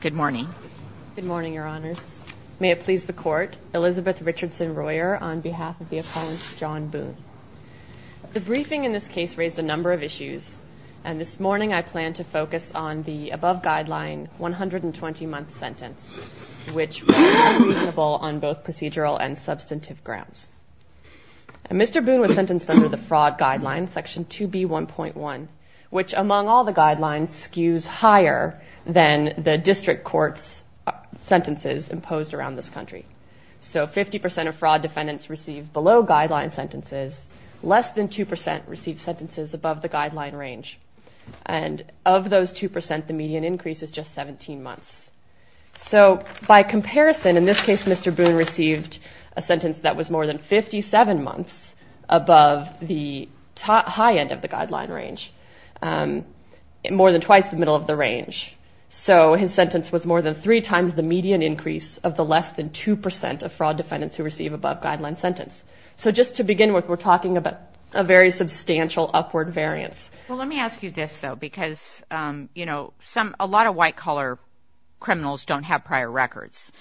Good morning. Good morning, Your Honors. May it please the Court, Elizabeth Richardson Royer on behalf of the appellant John Boone. The briefing in this case raised a number of issues, and this morning I plan to focus on the above guideline 120-month sentence, which was reasonable on both procedural and substantive grounds. Mr. Boone was sentenced under the fraud guideline, Section 2B1.1, which among all the guidelines skews higher than the district court's sentences imposed around this country. So 50% of fraud defendants received below guideline sentences. Less than 2% received sentences above the guideline range. And of those 2%, the median increase is just 17 months. So by comparison, in this case Mr. Boone received a sentence that was more than 57 months above the high end of the guideline range, more than twice the middle of the range. So his sentence was more than three times the median increase of the less than 2% of fraud defendants who receive above guideline sentence. So just to begin with, we're talking about a very substantial upward variance. Well, let me ask you this, though, because, you know, a lot of white-collar criminals don't have prior records.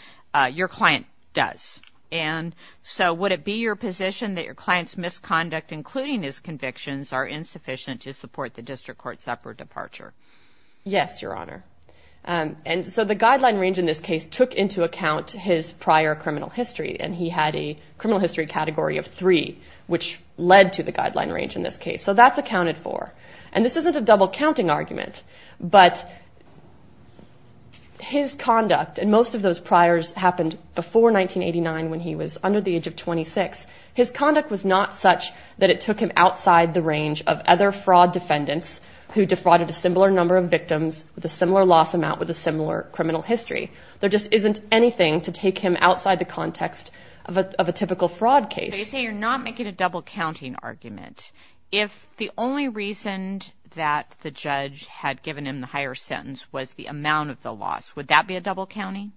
Your client does. And so would it be your position that your client's misconduct, including his convictions, are insufficient to support the district court's upward departure? Yes, Your Honor. And so the guideline range in this case took into account his prior criminal history, and he had a criminal history category of three, which led to the guideline range in this case. So that's accounted for. And this isn't a double-counting argument, but his conduct and most of those priors happened before 1989 when he was under the age of 26. His conduct was not such that it took him outside the range of other fraud defendants who defrauded a similar number of victims with a similar loss amount with a similar criminal history. There just isn't anything to take him outside the context of a typical fraud case. So you say you're not making a double-counting argument. If the only reason that the judge had given him the higher sentence was the amount of the loss, would that be a double-counting?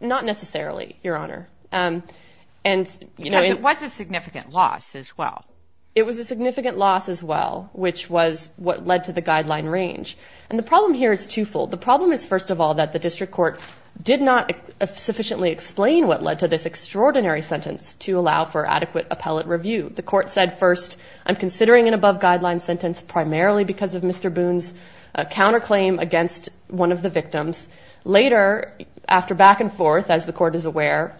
Not necessarily, Your Honor. Because it was a significant loss as well. It was a significant loss as well, which was what led to the guideline range. And the problem here is twofold. The problem is, first of all, that the district court did not sufficiently explain what led to this extraordinary sentence to allow for adequate appellate review. The court said, first, I'm considering an above-guideline sentence primarily because of Mr. Boone's counterclaim against one of the victims. Later, after back and forth, as the court is aware,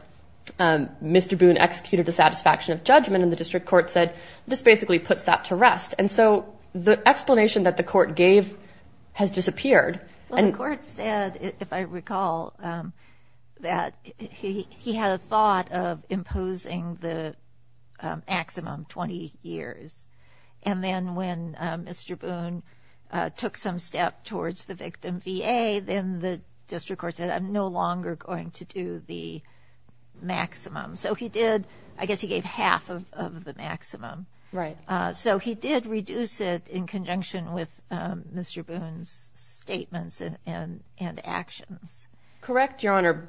Mr. Boone executed a satisfaction of judgment, and the district court said, this basically puts that to rest. And so the explanation that the court gave has disappeared. Well, the court said, if I recall, that he had a thought of imposing the maximum 20 years. And then when Mr. Boone took some step towards the victim VA, then the district court said, I'm no longer going to do the maximum. So he did, I guess he gave half of the maximum. Right. So he did reduce it in conjunction with Mr. Boone's statements and actions. Correct, Your Honor.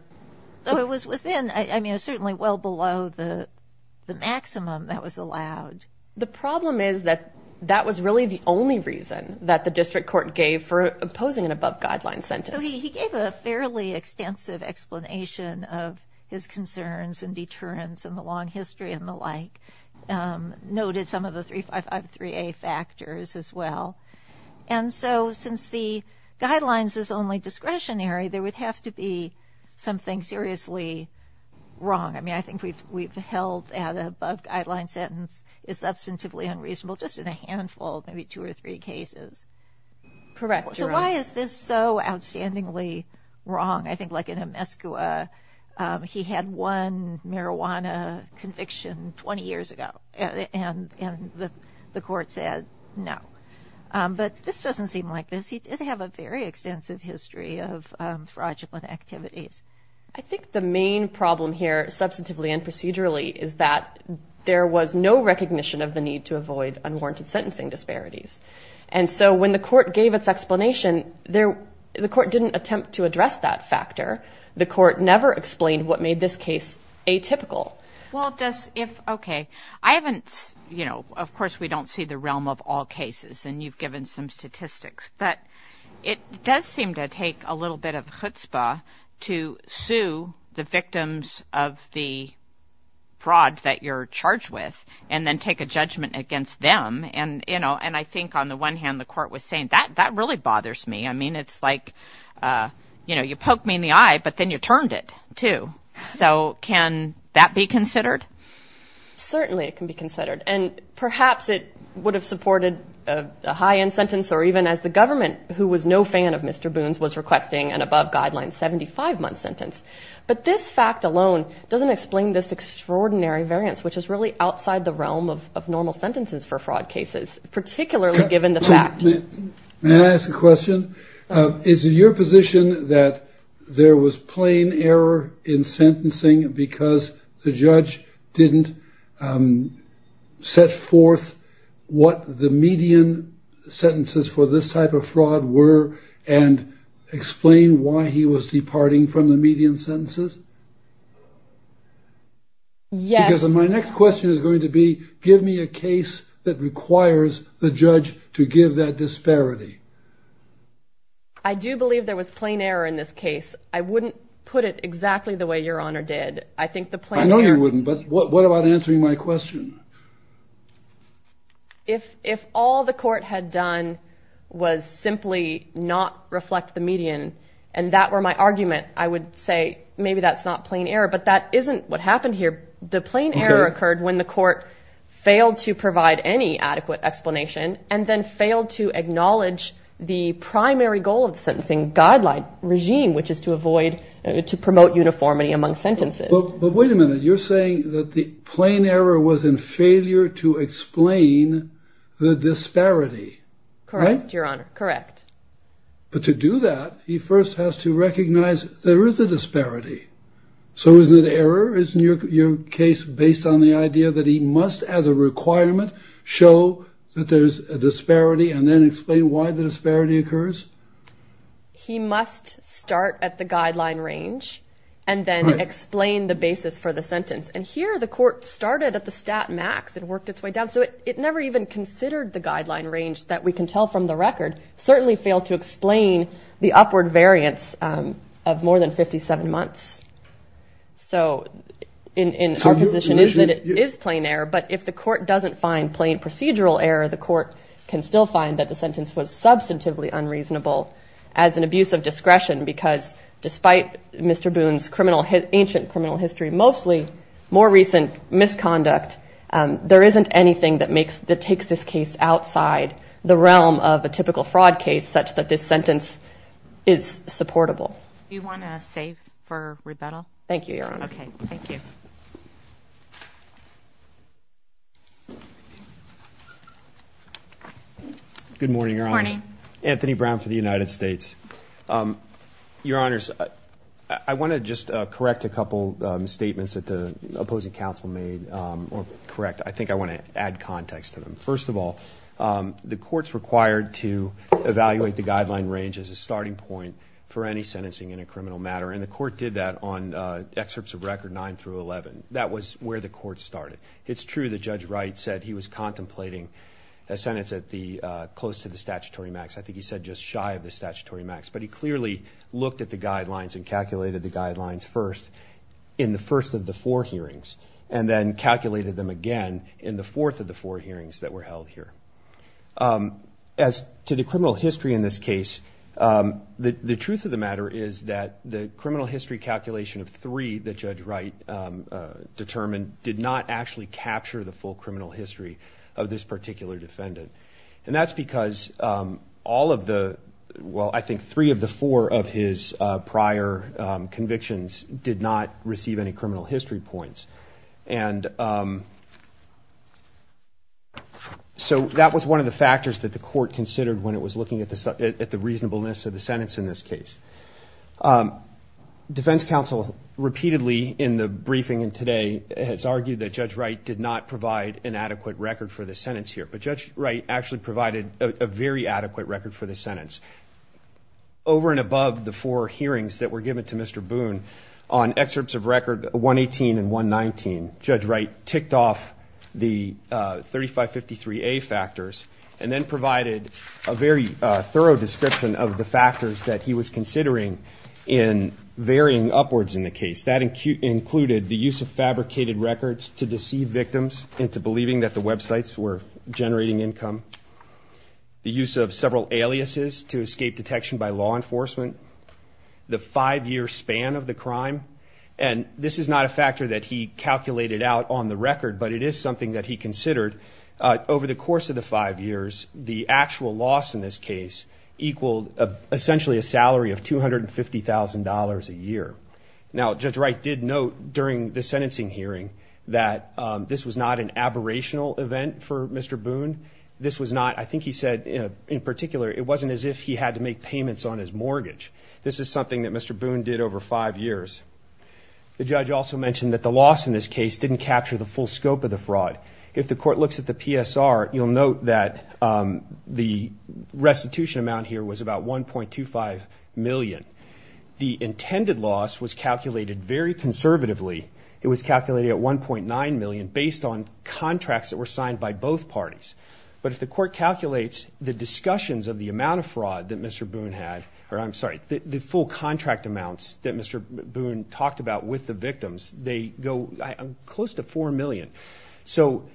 Though it was within, I mean, certainly well below the maximum that was allowed. The problem is that that was really the only reason that the district court gave for opposing an above-guideline sentence. He gave a fairly extensive explanation of his concerns and deterrence and the long history and the like. Noted some of the 3553A factors as well. And so since the guidelines is only discretionary, there would have to be something seriously wrong. I mean, I think we've held an above-guideline sentence is substantively unreasonable, just in a handful, maybe two or three cases. Correct, Your Honor. So why is this so outstandingly wrong? I think like in Amescua, he had one marijuana conviction 20 years ago, and the court said no. But this doesn't seem like this. He did have a very extensive history of fraudulent activities. I think the main problem here substantively and procedurally is that there was no recognition of the need to avoid unwarranted sentencing disparities. And so when the court gave its explanation, the court didn't attempt to address that factor. The court never explained what made this case atypical. Well, just if, okay. I haven't, you know, of course we don't see the realm of all cases, and you've given some statistics. But it does seem to take a little bit of chutzpah to sue the victims of the fraud that you're charged with and then take a judgment against them. And, you know, and I think on the one hand the court was saying, that really bothers me. I mean, it's like, you know, you poked me in the eye, but then you turned it, too. So can that be considered? Certainly it can be considered. And perhaps it would have supported a high-end sentence or even as the government, who was no fan of Mr. Boone's, was requesting an above-guideline 75-month sentence. But this fact alone doesn't explain this extraordinary variance, which is really outside the realm of normal sentences for fraud cases, particularly given the fact. May I ask a question? Is it your position that there was plain error in sentencing because the judge didn't set forth what the median sentences for this type of fraud were and explain why he was departing from the median sentences? Yes. Because my next question is going to be, give me a case that requires the judge to give that disparity. I do believe there was plain error in this case. I wouldn't put it exactly the way Your Honor did. I know you wouldn't, but what about answering my question? If all the court had done was simply not reflect the median and that were my argument, I would say maybe that's not plain error. But that isn't what happened here. The plain error occurred when the court failed to provide any adequate explanation and then failed to acknowledge the primary goal of the sentencing guideline regime, which is to avoid, to promote uniformity among sentences. But wait a minute. You're saying that the plain error was in failure to explain the disparity. Correct, Your Honor. Correct. But to do that, he first has to recognize there is a disparity. So is it error? Isn't your case based on the idea that he must, as a requirement, show that there's a disparity and then explain why the disparity occurs? He must start at the guideline range and then explain the basis for the sentence. And here the court started at the stat max and worked its way down. So it never even considered the guideline range that we can tell from the record. It certainly failed to explain the upward variance of more than 57 months. So in our position, it is plain error. as an abuse of discretion because despite Mr. Boone's ancient criminal history, mostly more recent misconduct, there isn't anything that takes this case outside the realm of a typical fraud case such that this sentence is supportable. Do you want to save for rebuttal? Thank you, Your Honor. Good morning, Your Honors. Good morning. Anthony Brown for the United States. Your Honors, I want to just correct a couple statements that the opposing counsel made. Correct. I think I want to add context to them. First of all, the court's required to evaluate the guideline range as a starting point for any sentencing in a criminal matter, and the court did that on excerpts of record 9 through 11. That was where the court started. It's true that Judge Wright said he was contemplating a sentence close to the statutory max. I think he said just shy of the statutory max, but he clearly looked at the guidelines and calculated the guidelines first in the first of the four hearings and then calculated them again in the fourth of the four hearings that were held here. As to the criminal history in this case, the truth of the matter is that the criminal history calculation of three that Judge Wright determined did not actually capture the full criminal history of this particular defendant. And that's because all of the, well, I think three of the four of his prior convictions did not receive any criminal history points. And so that was one of the factors that the court considered when it was looking at the reasonableness of the sentence in this case. Defense counsel repeatedly in the briefing today has argued that Judge Wright did not provide an adequate record for the sentence here, but Judge Wright actually provided a very adequate record for the sentence. Over and above the four hearings that were given to Mr. Boone on excerpts of record 118 and 119, Judge Wright ticked off the 3553A factors and then provided a very thorough description of the factors that he was considering in varying upwards in the case. That included the use of fabricated records to deceive victims into believing that the websites were generating income, the use of several aliases to escape detection by law enforcement, the five-year span of the crime. And this is not a factor that he calculated out on the record, but it is something that he considered over the course of the five years. The actual loss in this case equaled essentially a salary of $250,000 a year. Now, Judge Wright did note during the sentencing hearing that this was not an aberrational event for Mr. Boone. This was not, I think he said in particular, it wasn't as if he had to make payments on his mortgage. This is something that Mr. Boone did over five years. The judge also mentioned that the loss in this case didn't capture the full scope of the fraud. If the court looks at the PSR, you'll note that the restitution amount here was about $1.25 million. The intended loss was calculated very conservatively. It was calculated at $1.9 million based on contracts that were signed by both parties. But if the court calculates the discussions of the amount of fraud that Mr. Boone had, or I'm sorry, the full contract amounts that Mr. Boone talked about with the victims, they go close to $4 million. So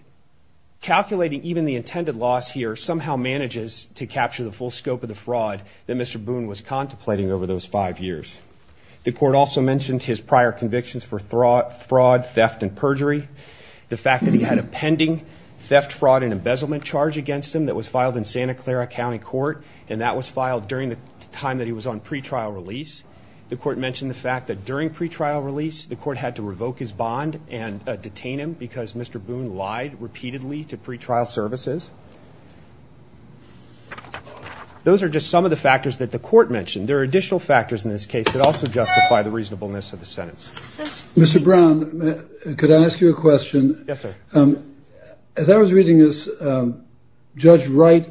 calculating even the intended loss here somehow manages to capture the full scope of the fraud that Mr. Boone was contemplating over those five years. The court also mentioned his prior convictions for fraud, theft, and perjury, the fact that he had a pending theft, fraud, and embezzlement charge against him that was filed in Santa Clara County Court, and that was filed during the time that he was on pretrial release. The court mentioned the fact that during pretrial release, the court had to revoke his bond and detain him because Mr. Boone lied repeatedly to pretrial services. Those are just some of the factors that the court mentioned. There are additional factors in this case that also justify the reasonableness of the sentence. Mr. Brown, could I ask you a question? Yes, sir. As I was reading this, Judge Wright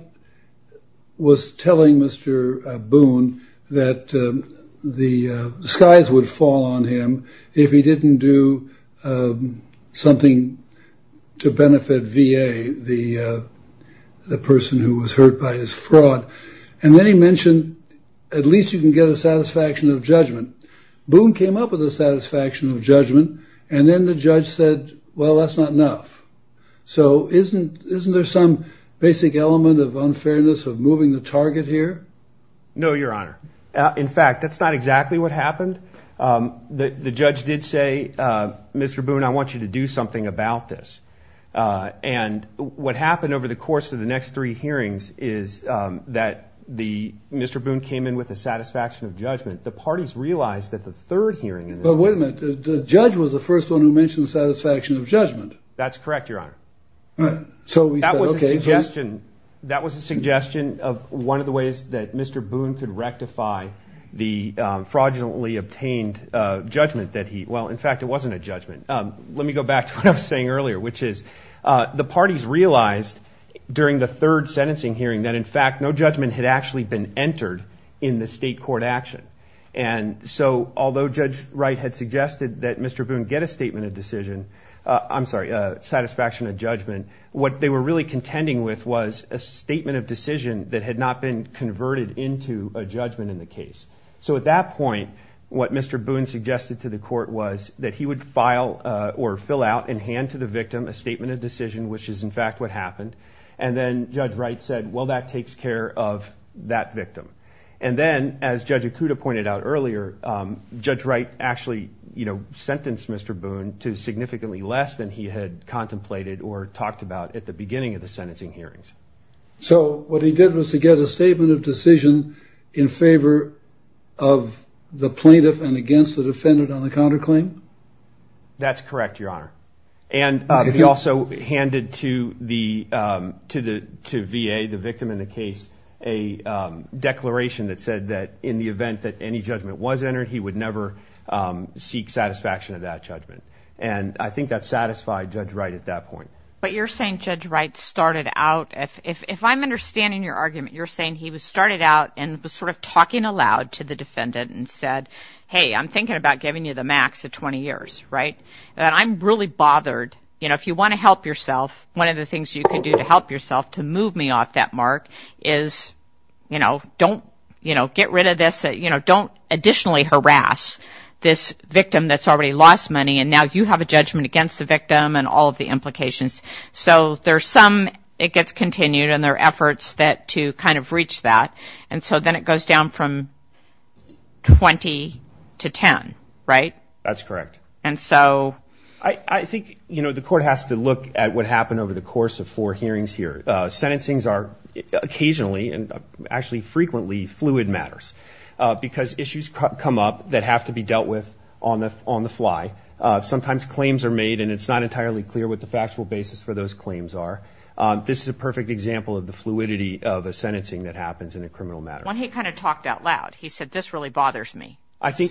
was telling Mr. Boone that the skies would fall on him if he didn't do something to benefit VA, the person who was hurt by his fraud. And then he mentioned, at least you can get a satisfaction of judgment. Boone came up with a satisfaction of judgment, and then the judge said, well, that's not enough. So isn't there some basic element of unfairness of moving the target here? No, Your Honor. In fact, that's not exactly what happened. The judge did say, Mr. Boone, I want you to do something about this. And what happened over the course of the next three hearings is that Mr. Boone came in with a satisfaction of judgment. The parties realized that the third hearing in this case. But wait a minute. The judge was the first one who mentioned the satisfaction of judgment. That's correct, Your Honor. All right. That was a suggestion of one of the ways that Mr. Boone could rectify the fraudulently obtained judgment. Well, in fact, it wasn't a judgment. Let me go back to what I was saying earlier, which is the parties realized during the third sentencing hearing that, in fact, no judgment had actually been entered in the state court action. And so although Judge Wright had suggested that Mr. Boone get a statement of decision, I'm sorry, a satisfaction of judgment, what they were really contending with was a statement of decision that had not been converted into a judgment in the case. So at that point, what Mr. Boone suggested to the court was that he would file or fill out in hand to the victim a statement of decision, which is in fact what happened. And then Judge Wright said, well, that takes care of that victim. And then, as Judge Okuda pointed out earlier, Judge Wright actually, you know, sentenced Mr. Boone to significantly less than he had contemplated or talked about at the beginning of the sentencing hearings. So what he did was to get a statement of decision in favor of the plaintiff and against the defendant on the counterclaim. That's correct, Your Honor. And he also handed to the to the to V.A., the victim in the case, a declaration that said that in the event that any judgment was entered, he would never seek satisfaction of that judgment. And I think that satisfied Judge Wright at that point. But you're saying Judge Wright started out if if I'm understanding your argument, you're saying he was started out and was sort of talking aloud to the defendant and said, hey, I'm thinking about giving you the max of 20 years. Right. And I'm really bothered. You know, if you want to help yourself, one of the things you can do to help yourself to move me off that mark is, you know, don't, you know, get rid of this. You know, don't additionally harass this victim that's already lost money. And now you have a judgment against the victim and all of the implications. So there are some it gets continued and their efforts that to kind of reach that. And so then it goes down from 20 to 10. Right. That's correct. And so I think, you know, the court has to look at what happened over the course of four hearings here. Sentencings are occasionally and actually frequently fluid matters because issues come up that have to be dealt with on the on the fly. Sometimes claims are made and it's not entirely clear what the factual basis for those claims are. This is a perfect example of the fluidity of a sentencing that happens in a criminal matter. When he kind of talked out loud, he said, this really bothers me. I think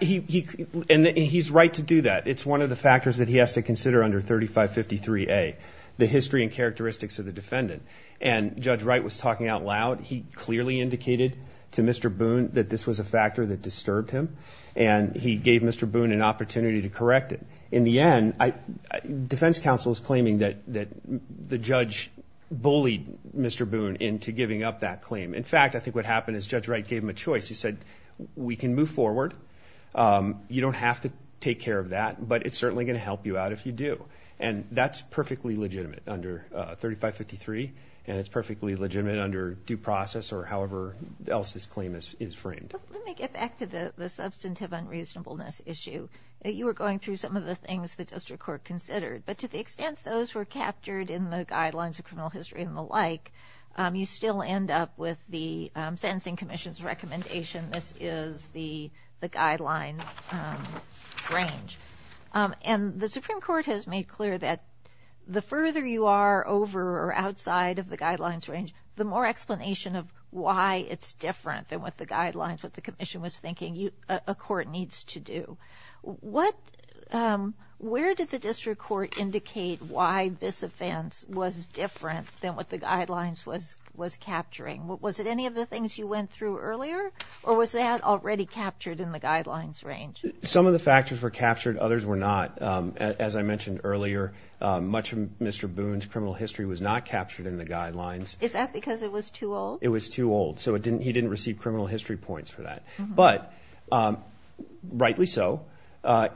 he and he's right to do that. It's one of the factors that he has to consider under thirty five fifty three a the history and characteristics of the defendant. And Judge Wright was talking out loud. He clearly indicated to Mr. Boone that this was a factor that disturbed him. And he gave Mr. Boone an opportunity to correct it. In the end, defense counsel is claiming that that the judge bullied Mr. Boone into giving up that claim. In fact, I think what happened is Judge Wright gave him a choice. He said, we can move forward. You don't have to take care of that, but it's certainly going to help you out if you do. And that's perfectly legitimate under thirty five fifty three. And it's perfectly legitimate under due process or however else this claim is framed. Let me get back to the substantive unreasonableness issue. You were going through some of the things the district court considered, but to the extent those were captured in the guidelines of criminal history and the like, you still end up with the sentencing commission's recommendation. This is the the guidelines range. And the Supreme Court has made clear that the further you are over or outside of the guidelines range, the more explanation of why it's different than what the guidelines, what the commission was thinking a court needs to do. What where did the district court indicate why this offense was different than what the guidelines was was capturing? Was it any of the things you went through earlier or was that already captured in the guidelines range? Some of the factors were captured. Others were not. As I mentioned earlier, much of Mr. Boone's criminal history was not captured in the guidelines. Is that because it was too old? It was too old. So it didn't he didn't receive criminal history points for that. But rightly so.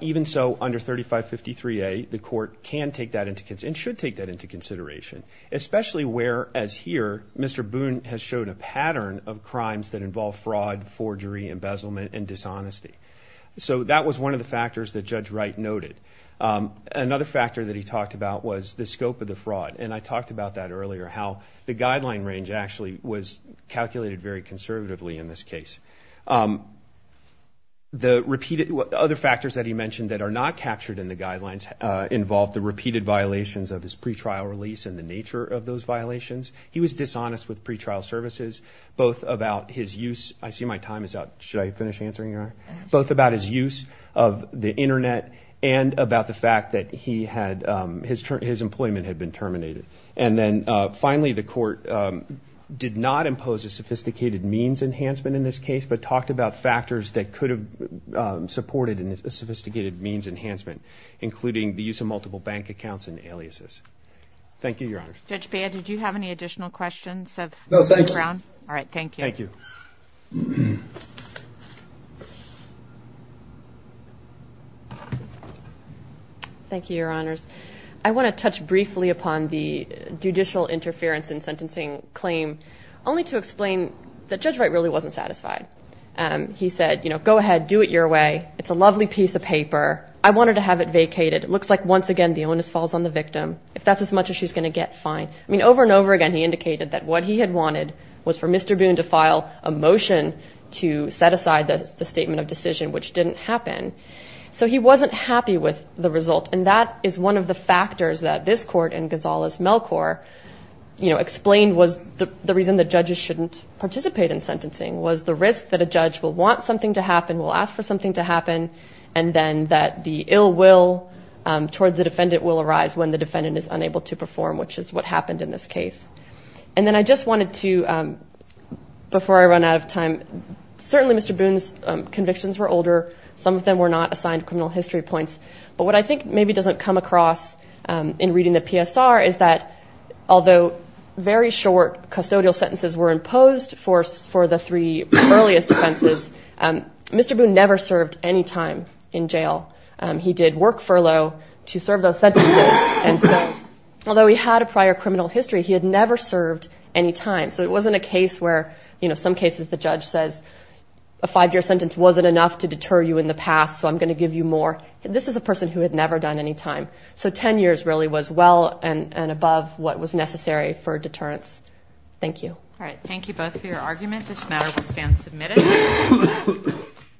Even so, under thirty five fifty three, the court can take that into and should take that into consideration, especially where, as here, Mr. Boone has shown a pattern of crimes that involve fraud, forgery, embezzlement and dishonesty. So that was one of the factors that Judge Wright noted. Another factor that he talked about was the scope of the fraud. And I talked about that earlier, how the guideline range actually was calculated very conservatively in this case. The repeated other factors that he mentioned that are not captured in the guidelines involve the repeated violations of his pretrial release and the nature of those violations. He was dishonest with pretrial services, both about his use. I see my time is up. Should I finish answering? Both about his use of the Internet and about the fact that he had his his employment had been terminated. And then finally, the court did not impose a sophisticated means enhancement in this case, but talked about factors that could have supported a sophisticated means enhancement, including the use of multiple bank accounts and aliases. Thank you, Your Honor. Judge, did you have any additional questions? All right. Thank you. Thank you. Thank you, Your Honors. I want to touch briefly upon the judicial interference in sentencing claim only to explain that Judge Wright really wasn't satisfied. He said, you know, go ahead, do it your way. It's a lovely piece of paper. I wanted to have it vacated. It looks like once again, the onus falls on the victim. If that's as much as she's going to get fine. I mean, over and over again, he indicated that what he had wanted was for Mr. Boone to file a motion to set aside the statement of decision, which didn't happen. So he wasn't happy with the result. And that is one of the factors that this court and Gonzalez Melchor, you know, explained was the reason the judges shouldn't participate in sentencing was the risk that a judge will want something to happen, will ask for something to happen, and then that the ill will toward the defendant will arise when the defendant is unable to perform, which is what happened in this case. And then I just wanted to before I run out of time. Certainly, Mr. Boone's convictions were older. Some of them were not assigned criminal history points. But what I think maybe doesn't come across in reading the PSR is that although very short custodial sentences were imposed force for the three earliest offenses, Mr. Boone never served any time in jail. He did work furlough to serve those sentences. And although he had a prior criminal history, he had never served any time. So it wasn't a case where, you know, some cases the judge says a five year sentence wasn't enough to deter you in the past. So I'm going to give you more. This is a person who had never done any time. So 10 years really was well and above what was necessary for deterrence. Thank you. All right. Thank you both for your argument. This matter will stand submitted.